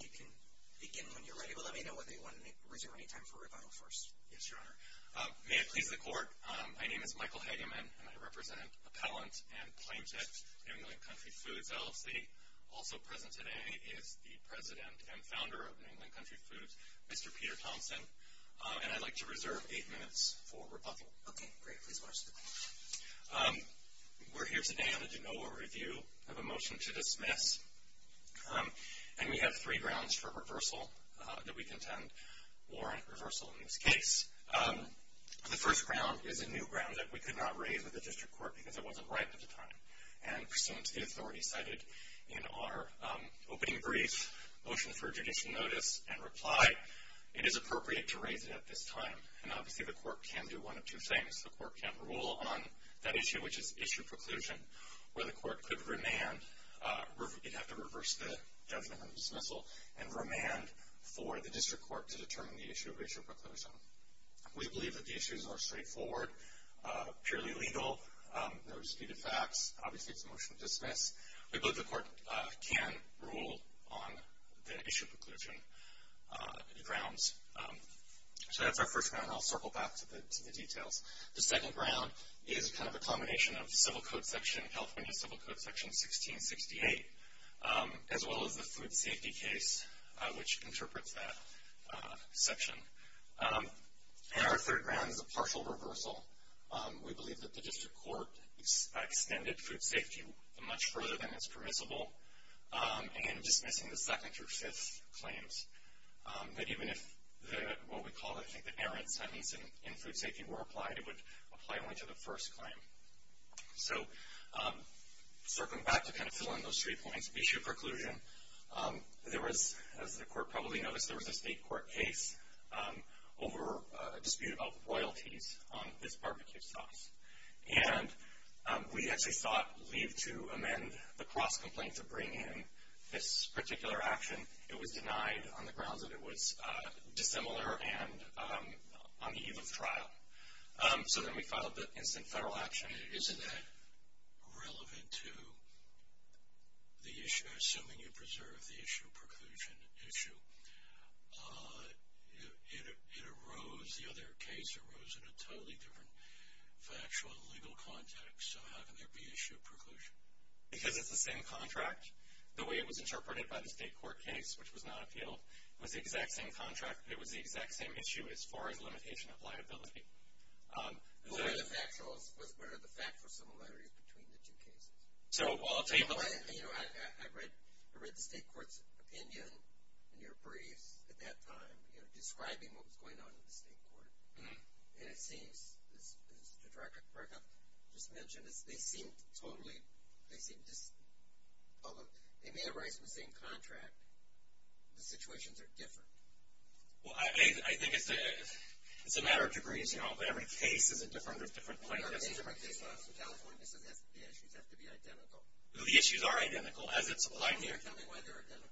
You can begin when you're ready, but let me know if you want to reserve any time for rebuttal first. Yes, Your Honor. May it please the Court, my name is Michael Hageman, and I represent Appellant and Plaintiff New England Country Foods, LLC. Also present today is the President and Founder of New England Country Foods, Mr. Peter Thompson, and I'd like to reserve eight minutes for rebuttal. Okay, great. Please watch the video. We're here today on a de novo review of a motion to dismiss, and we have three grounds for reversal that we contend warrant reversal in this case. The first ground is a new ground that we could not raise with the District Court because it wasn't right at the time. And pursuant to the authority cited in our opening brief, motion for judicial notice and reply, it is appropriate to raise it at this time. And obviously, the Court can do one of two things. The Court can rule on that issue, which is issue preclusion, where the Court could remand, it'd have to reverse the judgment on dismissal, and remand for the District Court to determine the issue of issue preclusion. We believe that the issues are straightforward, purely legal, no disputed facts. Obviously, it's a motion to dismiss. We believe the Court can rule on the issue preclusion grounds. So that's our first ground. I'll circle back to the details. The second ground is kind of a combination of the Civil Code section, California Civil Code section 1668, as well as the food safety case, which interprets that section. And our third ground is a partial reversal. We believe that the District Court extended food safety much further than is permissible in dismissing the second through fifth claims. That even if what we call, I think, the errant sentence in food safety were applied, it would apply only to the first claim. So circling back to kind of fill in those three points, issue preclusion, there was, as the Court probably noticed, there was a state court case over a dispute about royalties on this barbecue sauce. And we actually sought leave to amend the cross-complaint to bring in this particular action. It was denied on the grounds that it was dissimilar and on the eve of trial. So then we filed the instant federal action. Isn't that relevant to the issue, assuming you preserve the issue preclusion issue? It arose, the other case arose in a totally different factual legal context. So how can there be issue of preclusion? Because it's the same contract. The way it was interpreted by the state court case, which was not appealed, was the exact same contract. It was the exact same issue as far as limitation of liability. What are the factual similarities between the two cases? I read the state court's opinion in your briefs at that time, you know, describing what was going on in the state court. And it seems, as Director Burkett just mentioned, they seem totally, they seem, although they may arise from the same contract, the situations are different. Well, I think it's a matter of degrees, you know. Every case is a different plaintiff's issue. So California says the issues have to be identical. The issues are identical, as it's applied here. Tell me why they're identical.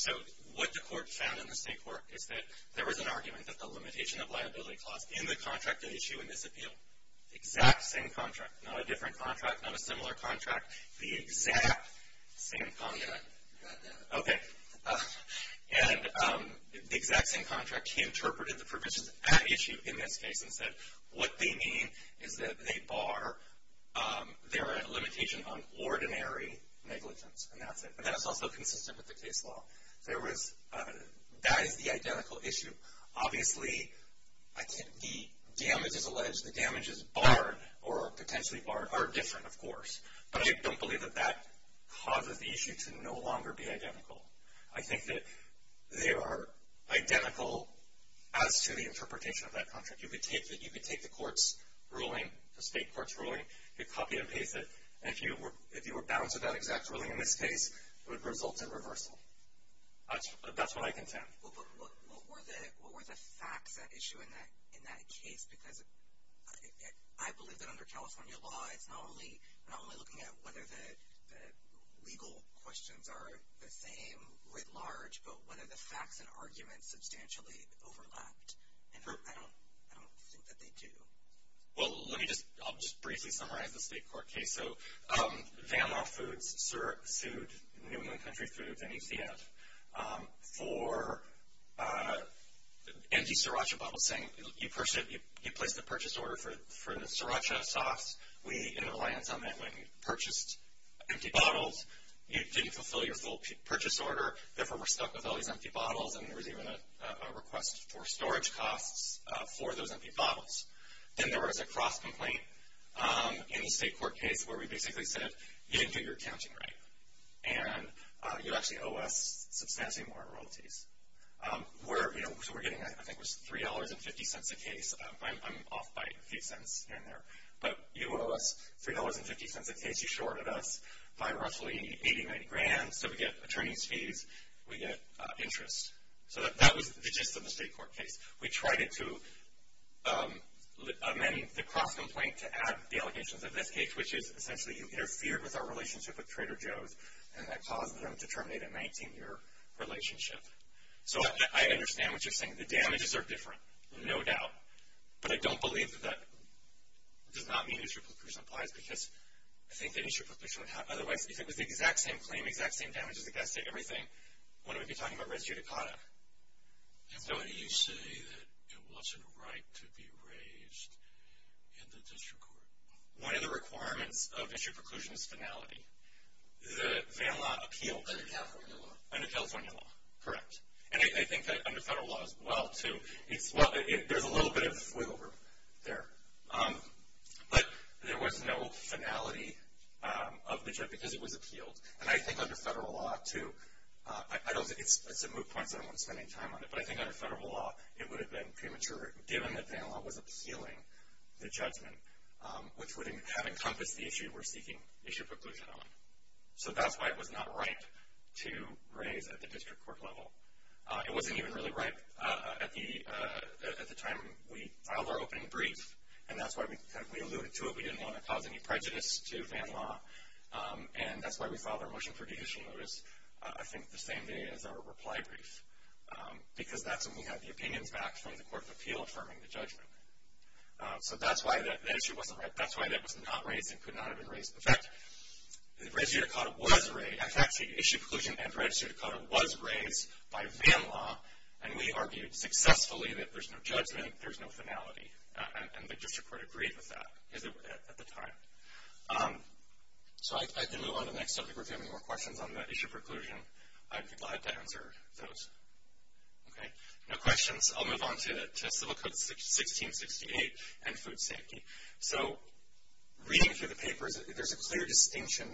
So what the court found in the state court is that there was an argument that the limitation of liability clause in the contract of issue in this appeal, exact same contract, not a different contract, not a similar contract. The exact same contract. You got that. Okay. And the exact same contract, he interpreted the provisions at issue in this case and said what they mean is that they bar their limitation on ordinary negligence. And that's it. And that's also consistent with the case law. There was, that is the identical issue. Obviously, the damage is alleged, the damage is barred or potentially barred, are different of course. But I don't believe that that causes the issue to no longer be identical. I think that they are identical as to the interpretation of that contract. You could take the court's ruling, the state court's ruling, you could copy and paste it, and if you were bound to that exact ruling in this case, it would result in reversal. That's what I contend. What were the facts at issue in that case? Because I believe that under California law, it's not only looking at whether the legal questions are the same writ large, but whether the facts and arguments substantially overlapped. And I don't think that they do. Well, let me just, I'll just briefly summarize the state court case. So, Van Law Foods sued New England Country Foods and UCF for empty Sriracha bottles saying you placed a purchase order for the Sriracha sauce. We, in reliance on that, purchased empty bottles. You didn't fulfill your full purchase order, therefore we're stuck with all these empty large costs for those empty bottles. Then there was a cross-complaint in the state court case where we basically said, you didn't do your accounting right. And you actually owe us substantially more royalties. We're, you know, so we're getting, I think it was $3.50 a case. I'm off by a few cents here and there. But you owe us $3.50 a case, you shorted us by roughly 80, 90 grand, so we get attorney's fees, we get interest. So, that was the gist of the state court case. We tried to amend the cross-complaint to add the allegations of this case, which is essentially you interfered with our relationship with Trader Joe's and that caused them to terminate a 19-year relationship. So, I understand what you're saying. The damages are different, no doubt. But I don't believe that that does not mean that issue of percussion applies because I think that issue of percussion would have, otherwise, if it was the exact same claim, exact same damages, exact same everything, why would we be talking about res judicata? I have no idea. You say that it wasn't right to be raised in the district court. One of the requirements of issue of percussion is finality. The VA law appealed. Under California law. Under California law, correct. And I think that under federal law as well, too. It's, well, there's a little bit of wiggle room there. But there was no finality of the judge because it was appealed. And I think under federal law, too. I don't think it's a moot point, so I don't want to spend any time on it. But I think under federal law, it would have been premature, given that VA law was appealing the judgment, which would have encompassed the issue we're seeking issue of percussion on. So, that's why it was not right to raise at the district court level. It wasn't even really right at the time we filed our opening brief. And that's why we alluded to it. We didn't want to cause any prejudice to VA law. And that's why we filed our motion for judicial notice, I think, the same day as our reply brief. Because that's when we had the opinions back from the Court of Appeal affirming the judgment. So, that's why that issue wasn't right. That's why that was not raised and could not have been raised. In fact, the issue of percussion and registry of Dakota was raised by VA law. And we argued successfully that there's no judgment. There's no finality. And the district court agreed with that at the time. So, I can move on to the next subject. If you have any more questions on the issue of percussion, I'd be glad to answer those. Okay? No questions? I'll move on to Civil Code 1668 and food safety. So, reading through the papers, there's a clear distinction.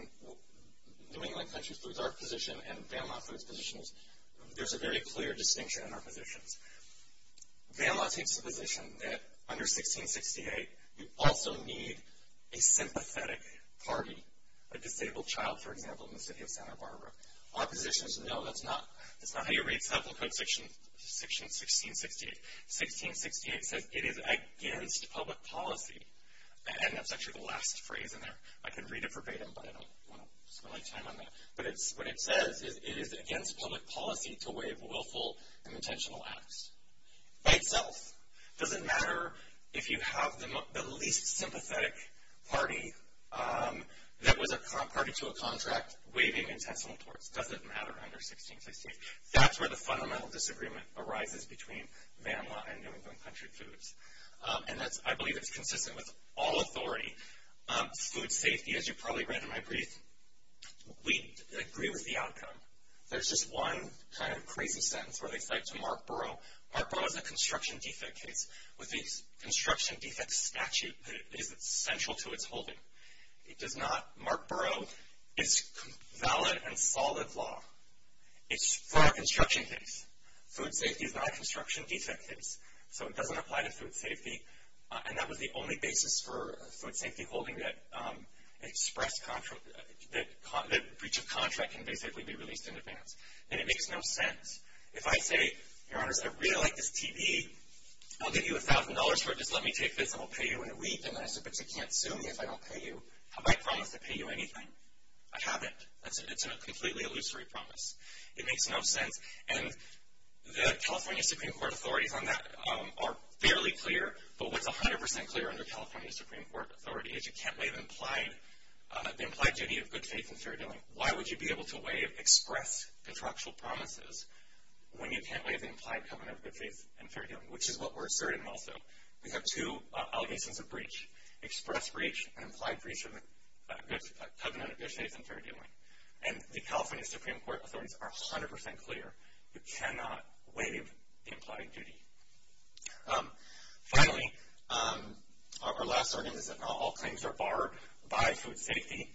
New England Country Foods, our position, and VA law food's position is there's a very clear distinction in our positions. VA law takes the position that, under 1668, you also need a sympathetic party. A disabled child, for example, in the city of Santa Barbara. Our position is, no, that's not how you read Civil Code section 1668. 1668 says it is against public policy. And that's actually the last phrase in there. I could read it verbatim, but I don't want to spend my time on that. But what it says is, it is against public policy to waive willful and intentional acts. By itself. It doesn't matter if you have the least sympathetic party that was a party to a contract waiving intentional torts. It doesn't matter under 1668. That's where the fundamental disagreement arises between VA and New England Country Foods. And I believe it's consistent with all authority. Food safety, as you probably read in my brief, we agree with the outcome. There's just one kind of crazy sentence where they cite to Mark Burrough. Mark Burrough has a construction defect case with the construction defect statute that is essential to its holding. Mark Burrough is valid and solid law. It's for a construction case. Food safety is not a construction defect case. So it doesn't apply to food safety. And that was the only basis for food safety holding that the breach of contract can basically be released in advance. And it makes no sense. If I say, your honors, I really like this TV. I'll give you $1,000 for it. Just let me take this and I'll pay you in a week. And then I say, but you can't sue me if I don't pay you. Have I promised to pay you anything? I haven't. It's a completely illusory promise. It makes no sense. And the California Supreme Court authorities on that are fairly clear. But what's 100% clear under California Supreme Court authority is you can't waive the implied duty of good faith and fair dealing. Why would you be able to waive express contractual promises when you can't waive the implied covenant of good faith and fair dealing? Which is what we're asserting also. We have two allegations of breach. Express breach and implied breach of the covenant of good faith and fair dealing. And the California Supreme Court authorities are 100% clear. You cannot waive the implied duty. Finally, our last argument is that not all claims are barred by food safety.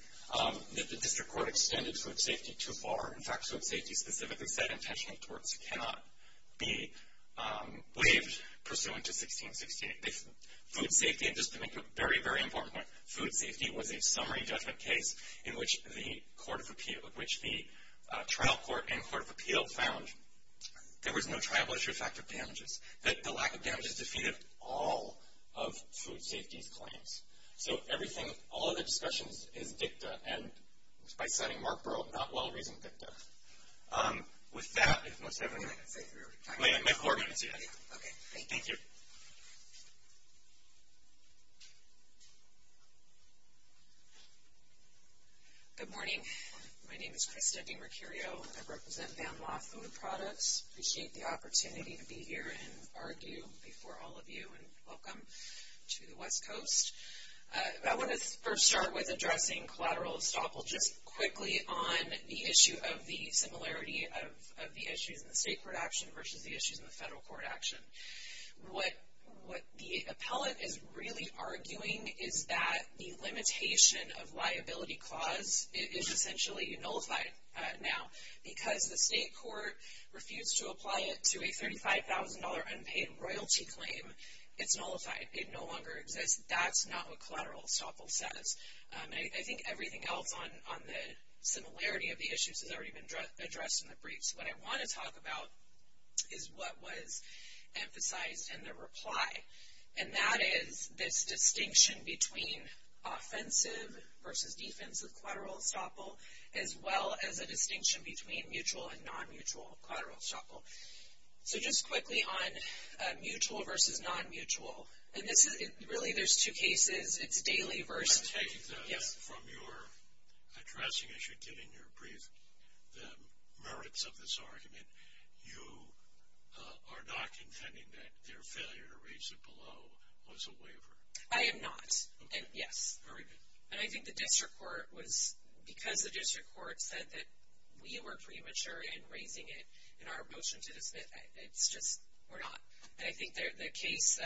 The district court extended food safety too far. In fact, food safety specifically said intentional torts cannot be waived pursuant to 1668. Food safety, and just to make a very, very important point, food safety was a summary judgment case in which the trial court and court of appeal found that there was no tribal issue factor of damages, that the lack of damages defeated all of food safety's claims. So everything, all of the discussions is dicta and by citing Mark Burrell, not well-reasoned dicta. With that, if most everyone... Can I say three or four? Wait a minute, four minutes. Okay. Thank you. Good morning. My name is Krista Di Mercurio and I represent Van Law Food Products. I appreciate the opportunity to be here and argue before all of you and welcome to the West Coast. I want to first start with addressing collateral estoppel just quickly on the issue of the similarity of the issues in the state court action versus the issues in the federal court action. What the appellate is really arguing is that the limitation of liability clause is essentially nullified now because the state court refused to apply it to a $35,000 unpaid royalty claim. It's nullified. It no longer exists. That's not what collateral estoppel says. I think everything else on the similarity of the issues has already been addressed in the briefs. What I want to talk about is what was emphasized in the reply and that is this distinction between offensive versus defensive collateral estoppel as well as a distinction between mutual and non-mutual collateral estoppel. Just quickly on mutual versus non-mutual. Really, there's two cases. It's daily versus... I'm speaking from your addressing as you're giving your brief the merits of this argument. You are not contending that their failure to reach the below was a waiver. I am not. Yes. I think the district court was... Because the district court said that we were premature in raising it in our motion to dismiss, it's just... We're not. I think the case...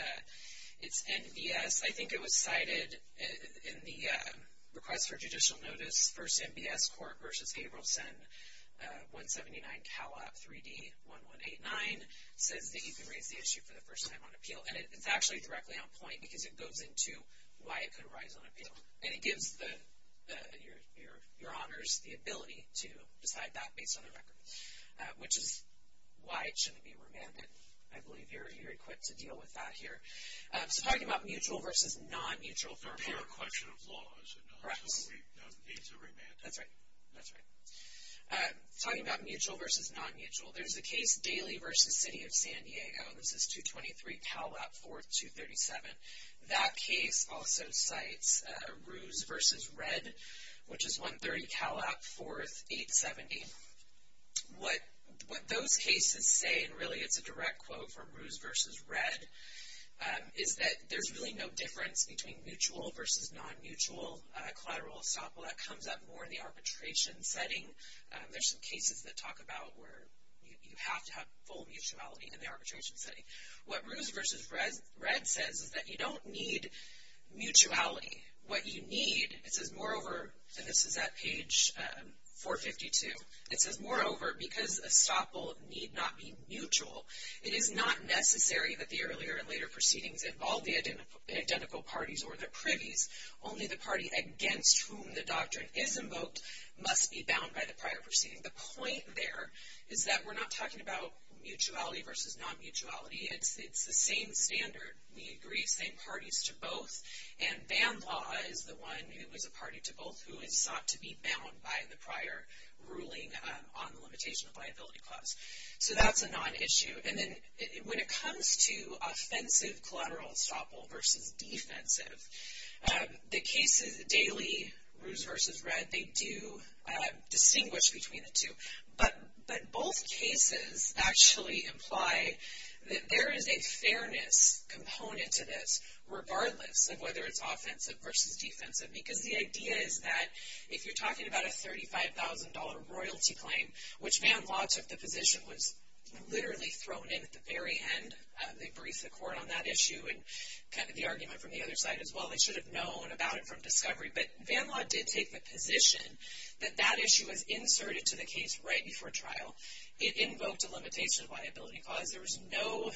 It's NBS. I think it was cited in the request for judicial notice. First, NBS court versus Gabrielson. 179 Calop 3D 1189 says that you can raise the issue for the first time on appeal. It's actually directly on point because it goes into why it could arise on appeal. It gives your honors the ability to decide that based on the record, which is why it shouldn't be remanded. I believe you're equipped to deal with that here. Talking about mutual versus non-mutual... It's a fair question of laws. Correct. It needs a remand. That's right. That's right. Talking about mutual versus non-mutual. There's a case daily versus city of San Diego. This is 223 Calop 4237. That case also cites Ruse versus Red, which is 130 Calop 4870. What those cases say, and really it's a direct quote from Ruse versus Red, is that there's really no difference between mutual versus non-mutual collateral assault. That comes up more in the arbitration setting. There's some cases that talk about where you have to have full mutuality in the arbitration setting. What Ruse versus Red says is that you don't need mutuality. What you need, it says moreover, and this is at page 452, it says moreover, because estoppel need not be mutual, it is not necessary that the earlier and later proceedings involve the identical parties or the privies. Only the party against whom the doctrine is invoked must be bound by the prior proceeding. The point there is that we're not talking about mutuality versus non-mutuality. It's the same standard. We agree same parties to both and ban law is the one who is a party to both who is sought to be bound by the prior ruling on the limitation of liability clause. So that's a non-issue. When it comes to offensive collateral estoppel versus defensive, the cases daily, Ruse versus Red, they do distinguish between the two. But both cases actually imply that there is a fairness component to this regardless of whether it's offensive versus defensive. Because the idea is that if you're talking about a $35,000 royalty claim which ban law took the position was literally thrown in at the very end. They briefed the court on that issue and kind of the argument from the other side as well. They should have known about it from discovery. But ban law did take the position that that issue was inserted to the case right before trial. It invoked a limitation of liability clause. There was no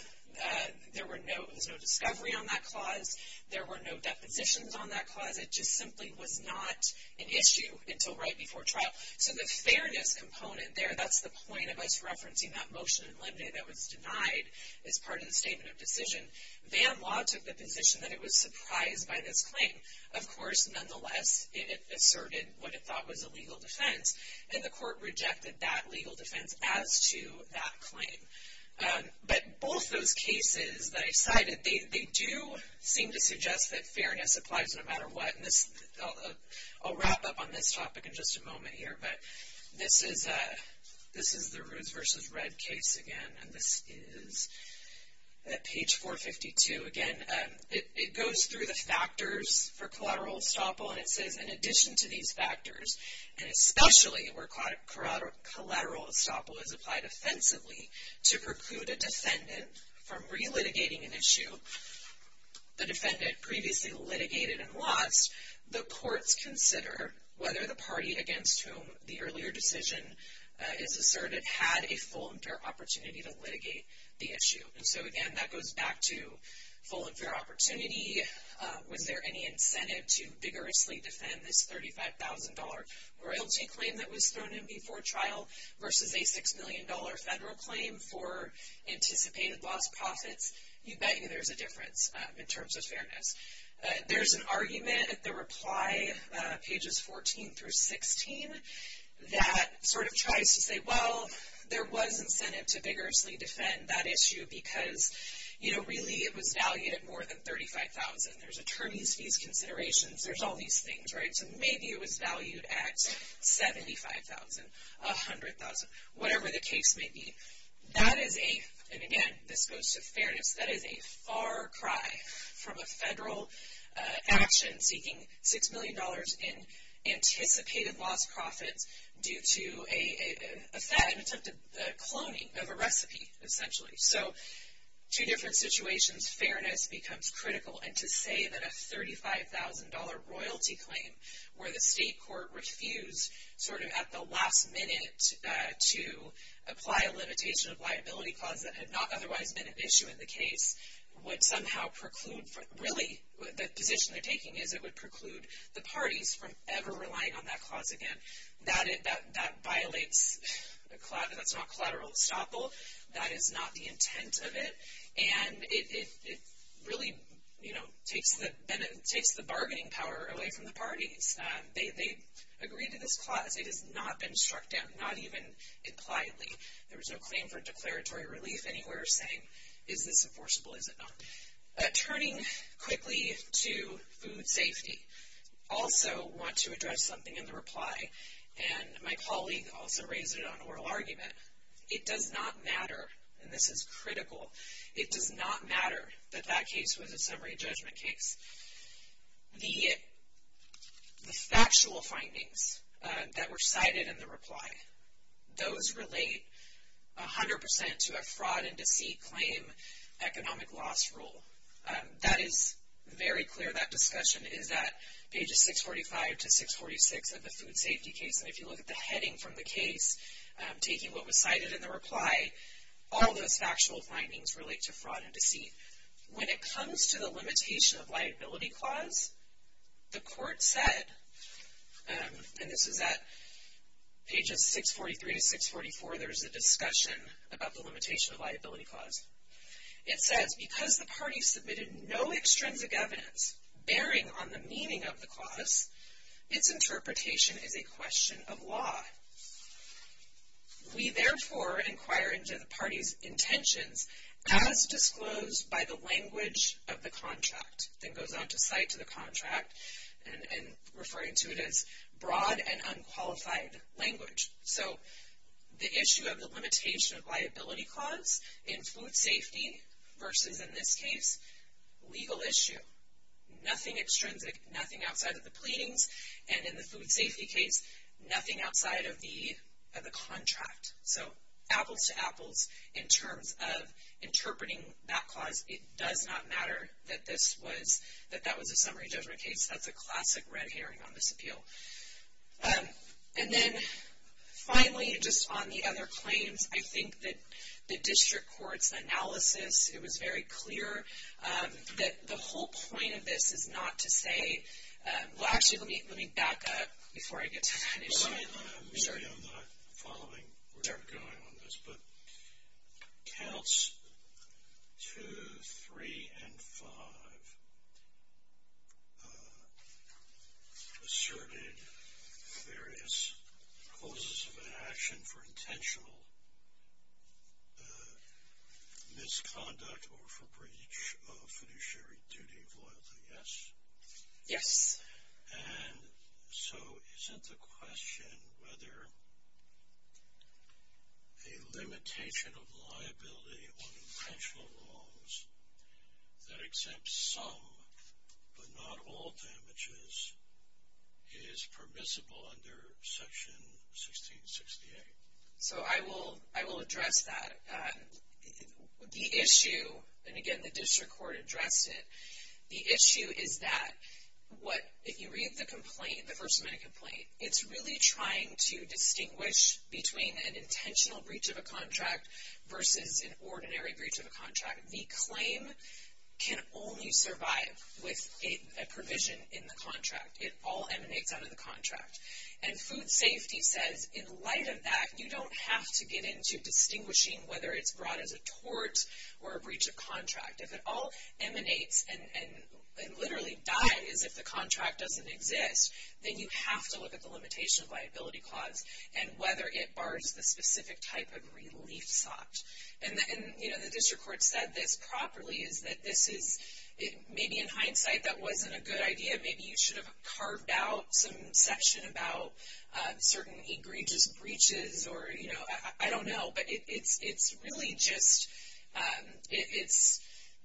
there was no discovery on that clause. There were no depositions on that clause. It just simply was not an issue until right before trial. So the fairness component there, that's the point of us referencing that motion in Limday that was denied as part of the statement of decision. Ban law took the position that it was surprised by this claim. it asserted what it thought was a legal defense. And the court rejected that legal defense as to that claim. But both those cases that I cited, they do seem to suggest that fairness applies no matter what. And I'll wrap up on this topic in just a moment here. But this is the Roos vs. Red case again. And this is page 452. Again, it goes through the factors for collateral estoppel. And it says in addition to these factors, and especially where collateral estoppel is applied offensively, to preclude a defendant from relitigating an issue the defendant previously litigated and lost, the courts consider whether the party against whom the earlier decision is asserted had a full and fair opportunity to litigate the issue. And so again, that goes back to full and fair opportunity. Was there any incentive to vigorously defend this $35,000 royalty claim that was thrown in before trial versus a $6 million federal claim for anticipated lost profits? You bet you there's a difference in terms of fairness. There's an argument at the reply, pages 14 through 16, that sort of tries to say, well, there was incentive to vigorously defend that issue because, you know, really it was valued at more than $35,000. There's attorney's fees considerations. There's all these things, right? So maybe it was valued at $75,000, $100,000, whatever the case may be. That is a, and again, this goes to fairness, that is a far cry from a federal action seeking $6 million in anticipated lost profits due to a attempted cloning of a recipe, essentially. So, two different situations, fairness becomes critical and to say that a $35,000 royalty claim where the state court refused, sort of at the last minute, to apply a limitation of liability clause that had not otherwise been an issue in the case would somehow preclude, really, the position they're taking is it would preclude the parties from ever relying on that clause again. That violates collateral, that's not collateral estoppel. That is not the intent of it. And it really, you know, takes the bargaining power away from the parties. They agreed to this clause. It has not been struck down, not even impliedly. There was no claim for declaratory relief anywhere saying is this enforceable, is it not? Turning quickly to food safety, also want to address something in the reply and my colleague also raised it on oral argument. It does not matter and this is critical, it does not matter that that case was a summary judgment case. The factual findings that were cited in the reply, those relate 100% to a fraud and deceit claim economic loss rule. That is very clear, that discussion is that pages 645 to 646 of the food safety case and if you look at the heading from the case, taking what was cited in the reply, all those factual findings relate to fraud and deceit. When it comes to the limitation of liability clause, the court said and this is at pages 643 to 644 there is a discussion about the limitation of liability clause. It says, because the party submitted no extrinsic evidence bearing on the meaning of the clause, its interpretation is a question of law. We therefore inquire into the party's intentions as disclosed by the language of the contract. It goes on to cite to the contract and referring to it as broad and unqualified language. So, the issue of the limitation of liability clause in food safety versus in this case, legal issue, nothing extrinsic, nothing outside of the pleadings and in the food safety case, nothing outside of the contract. So, it appeals to Apples in terms of interpreting that clause. It does not matter that that was a summary judgment case. That's a classic red herring on this appeal. And then, finally, just on the other claims, I think that the district court's analysis, it was very clear that the whole point of this is not to say, well, excuse me, let me back up before I get into it. I'm sorry, I'm not following what's going on in this, but counts 2, 3, and 5 asserted various causes of inaction for intentional misconduct or for breach of fiduciary duty of loyalty. Yes? Yes. And so isn't the question whether a limitation of liability on intentional wrongs that exempts some but not all damages is permissible under Section 1668? So I will address that. The issue, and again the district court addressed it, the issue is that what, if you read the complaint, the First Amendment complaint, it's really trying to distinguish between an intentional breach of a contract versus an ordinary breach of a contract. The claim can only survive with a provision in the contract. It all emanates and literally dies if the contract doesn't exist. Then you have to look at the limitation of liability clause and whether it bars the specific type of relief sought. And the district court said this properly, maybe in hindsight that wasn't a good idea, maybe you should have carved out some section about certain egregious breaches, I don't know, but it's really just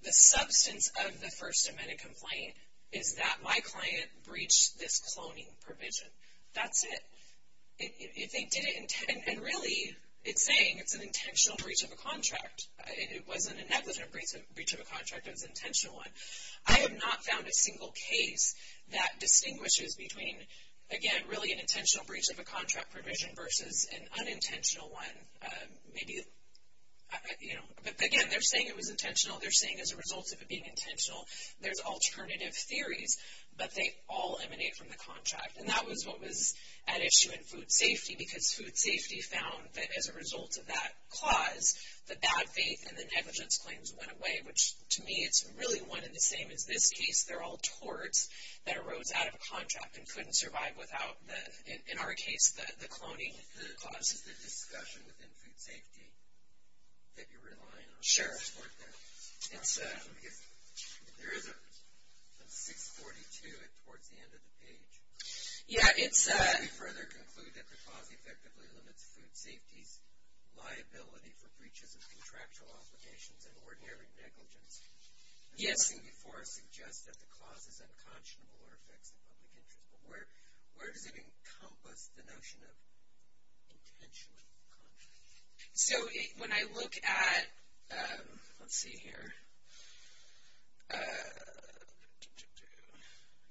the substance of the First Amendment complaint is that my client breached this cloning provision. That's it. And really it's saying it's an intentional breach of a contract. It wasn't a negligent breach of a contract, it was an intentional one. I have not found a single case that distinguishes between, again, really an intentional breach of a contract provision versus an unintentional one. Again, they're saying it was at issue in food safety because food safety found that as a result of that clause, the bad faith and the negligence claims went away, which to me it's really one in the same as this case. They're all torts that arose out of a contract and couldn't survive without the, in our case, the cloning clause. This is the discussion within food safety that you're relying on. Sure. It's, there is a 642 towards the end of the page. Yeah, it's... Can you further conclude that the clause effectively limits food safety's liability for breaches of contractual obligations and ordinary negligence? Yes. I've seen before suggest that the clause is unconscionable or affects the public interest, but where does it encompass the notion of intentional contract? So, when I look at, let's see here,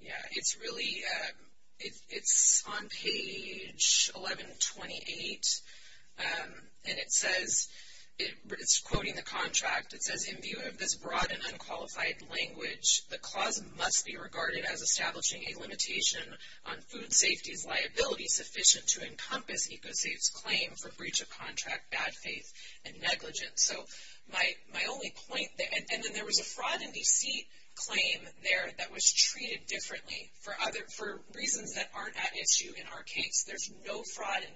yeah, it's really, it's on page 1128 and it says, it's quoting the contract, it says, in view of this broad and unqualified language, the clause must be regarded as establishing a limitation on food safety's liability sufficient to encompass ECOSAFE's claim for breach of contract, bad faith, and negligence. So, my only point there, and then there was a fraud and deceit claim there that was treated differently for reasons that aren't at issue in our case. There's no fraud and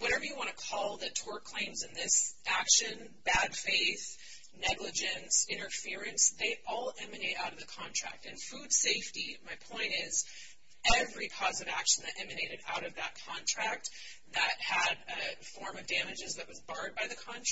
whatever you want to call the tort claims in this action, bad faith, negligence, interference, they all emanate out of the contract. And food safety, my point is, every positive action that emanated out of that contract that had a form of damages that was barred by the breach of contract. So, I'm going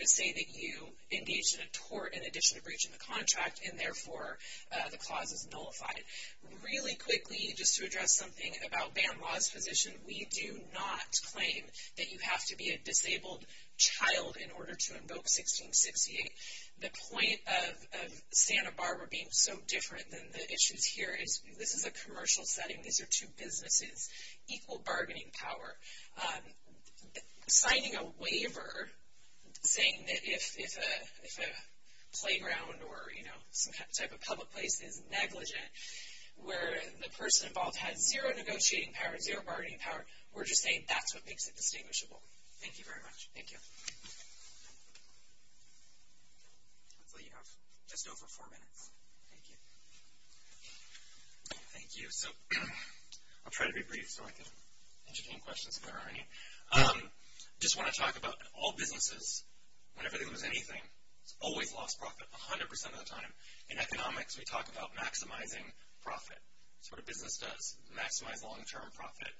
to say that you engage in a tort in addition to breach of contract, and therefore, the clause is nullified. Really quickly, just to address something about BAMLA's position, we do not claim that you have to be a disabled child in order to invoke 1668. The point of Santa Barbara being so different than the issues here is, this is a commercial setting, these are two businesses, equal bargaining power. Signing a waiver saying that if a playground or, you know, some type of public place is negligent, where the person involved had zero negotiating power, zero bargaining power, we're just saying that's what makes it distinguishable. Thank you very much. Thank you. Hopefully you have just over four minutes. Thank you. Thank you. So, I'll try to be brief so I can entertain questions if there are any. I just want to talk about all businesses, whenever there was anything, always lost profit 100% of the time. In economics, we talk about maximizing profit. That's what a business does, maximize long-term profit.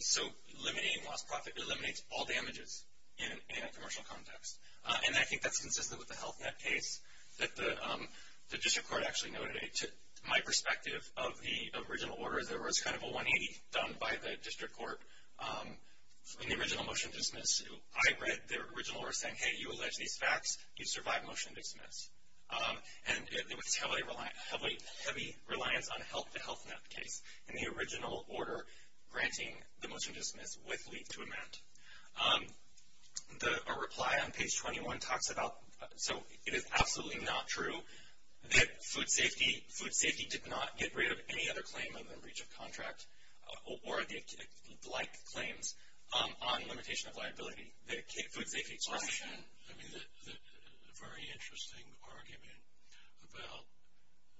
So, eliminating lost profit eliminates all damages in a commercial context. And I think that's consistent with the HealthNet case that the District Court actually noted. To my perspective of the original order, there was kind of a 180 done by the District Court in the original motion dismiss. I read the original order saying, hey, you allege these facts, you survive motion dismiss. And there was heavy reliance on the HealthNet case in the original order granting the motion dismiss with leave to amend. A reply on page 21 talks about, so, it is absolutely not true that food safety did not get rid of any other claim in the reach of contract or the like claims on limitation of liability. The food safety motion. I mean, a very interesting argument about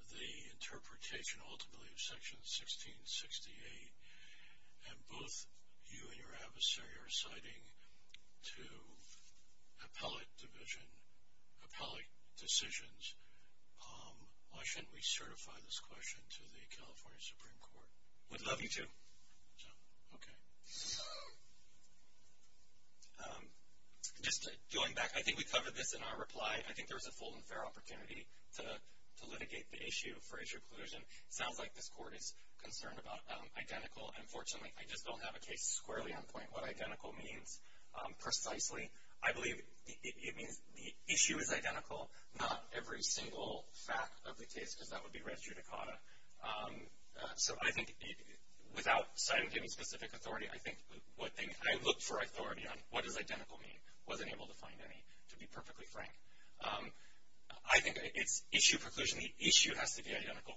the interpretation ultimately of section 1668 and both you and your adversary are citing to appellate division, appellate decisions, why shouldn't we certify this question to the Supreme Court? Just going back, I think we covered this in our reply. I think there was a full and fair opportunity to litigate the issue for issue collusion. It sounds like this court is concerned about identical. Unfortunately, I just don't have a case squarely on point. What identical means, precisely, I believe it means the issue is identical, not every single fact of the case because that would be res judicata. So I think without citing any specific authority, I looked for authority on what does identical mean. Wasn't able to find any, to be perfectly frank. I think it's issue preclusion. The issue has to be identical.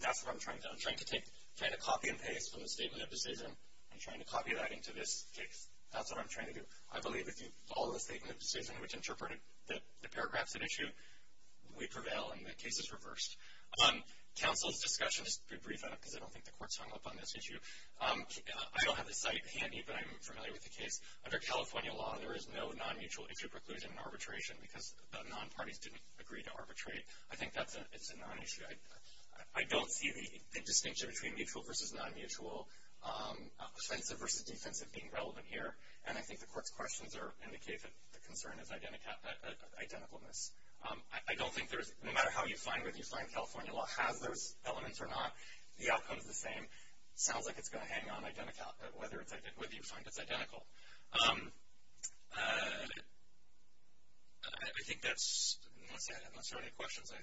That's what I'm trying to do. I believe if you follow the statement which interpreted the paragraphs at issue, we prevail and the case is reversed. Counsel's discussion, I don't think the court is hung up on this issue. I don't have the site handy but I'm familiar with the case. Under California law there is no non-mutual issue preclusion in arbitration because the non-parties didn't agree to arbitrate. I don't see the distinction between mutual versus non-mutual offensive versus defensive being relevant here. And I think the court's questions indicate that the concern is unidentifiable whether you find it identical. I think that's it. Unless there are any questions, that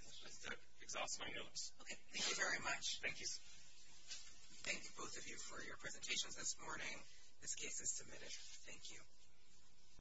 exhausts my notice. Thank you. Thank you both of you for your presentations this morning. This case is submitted.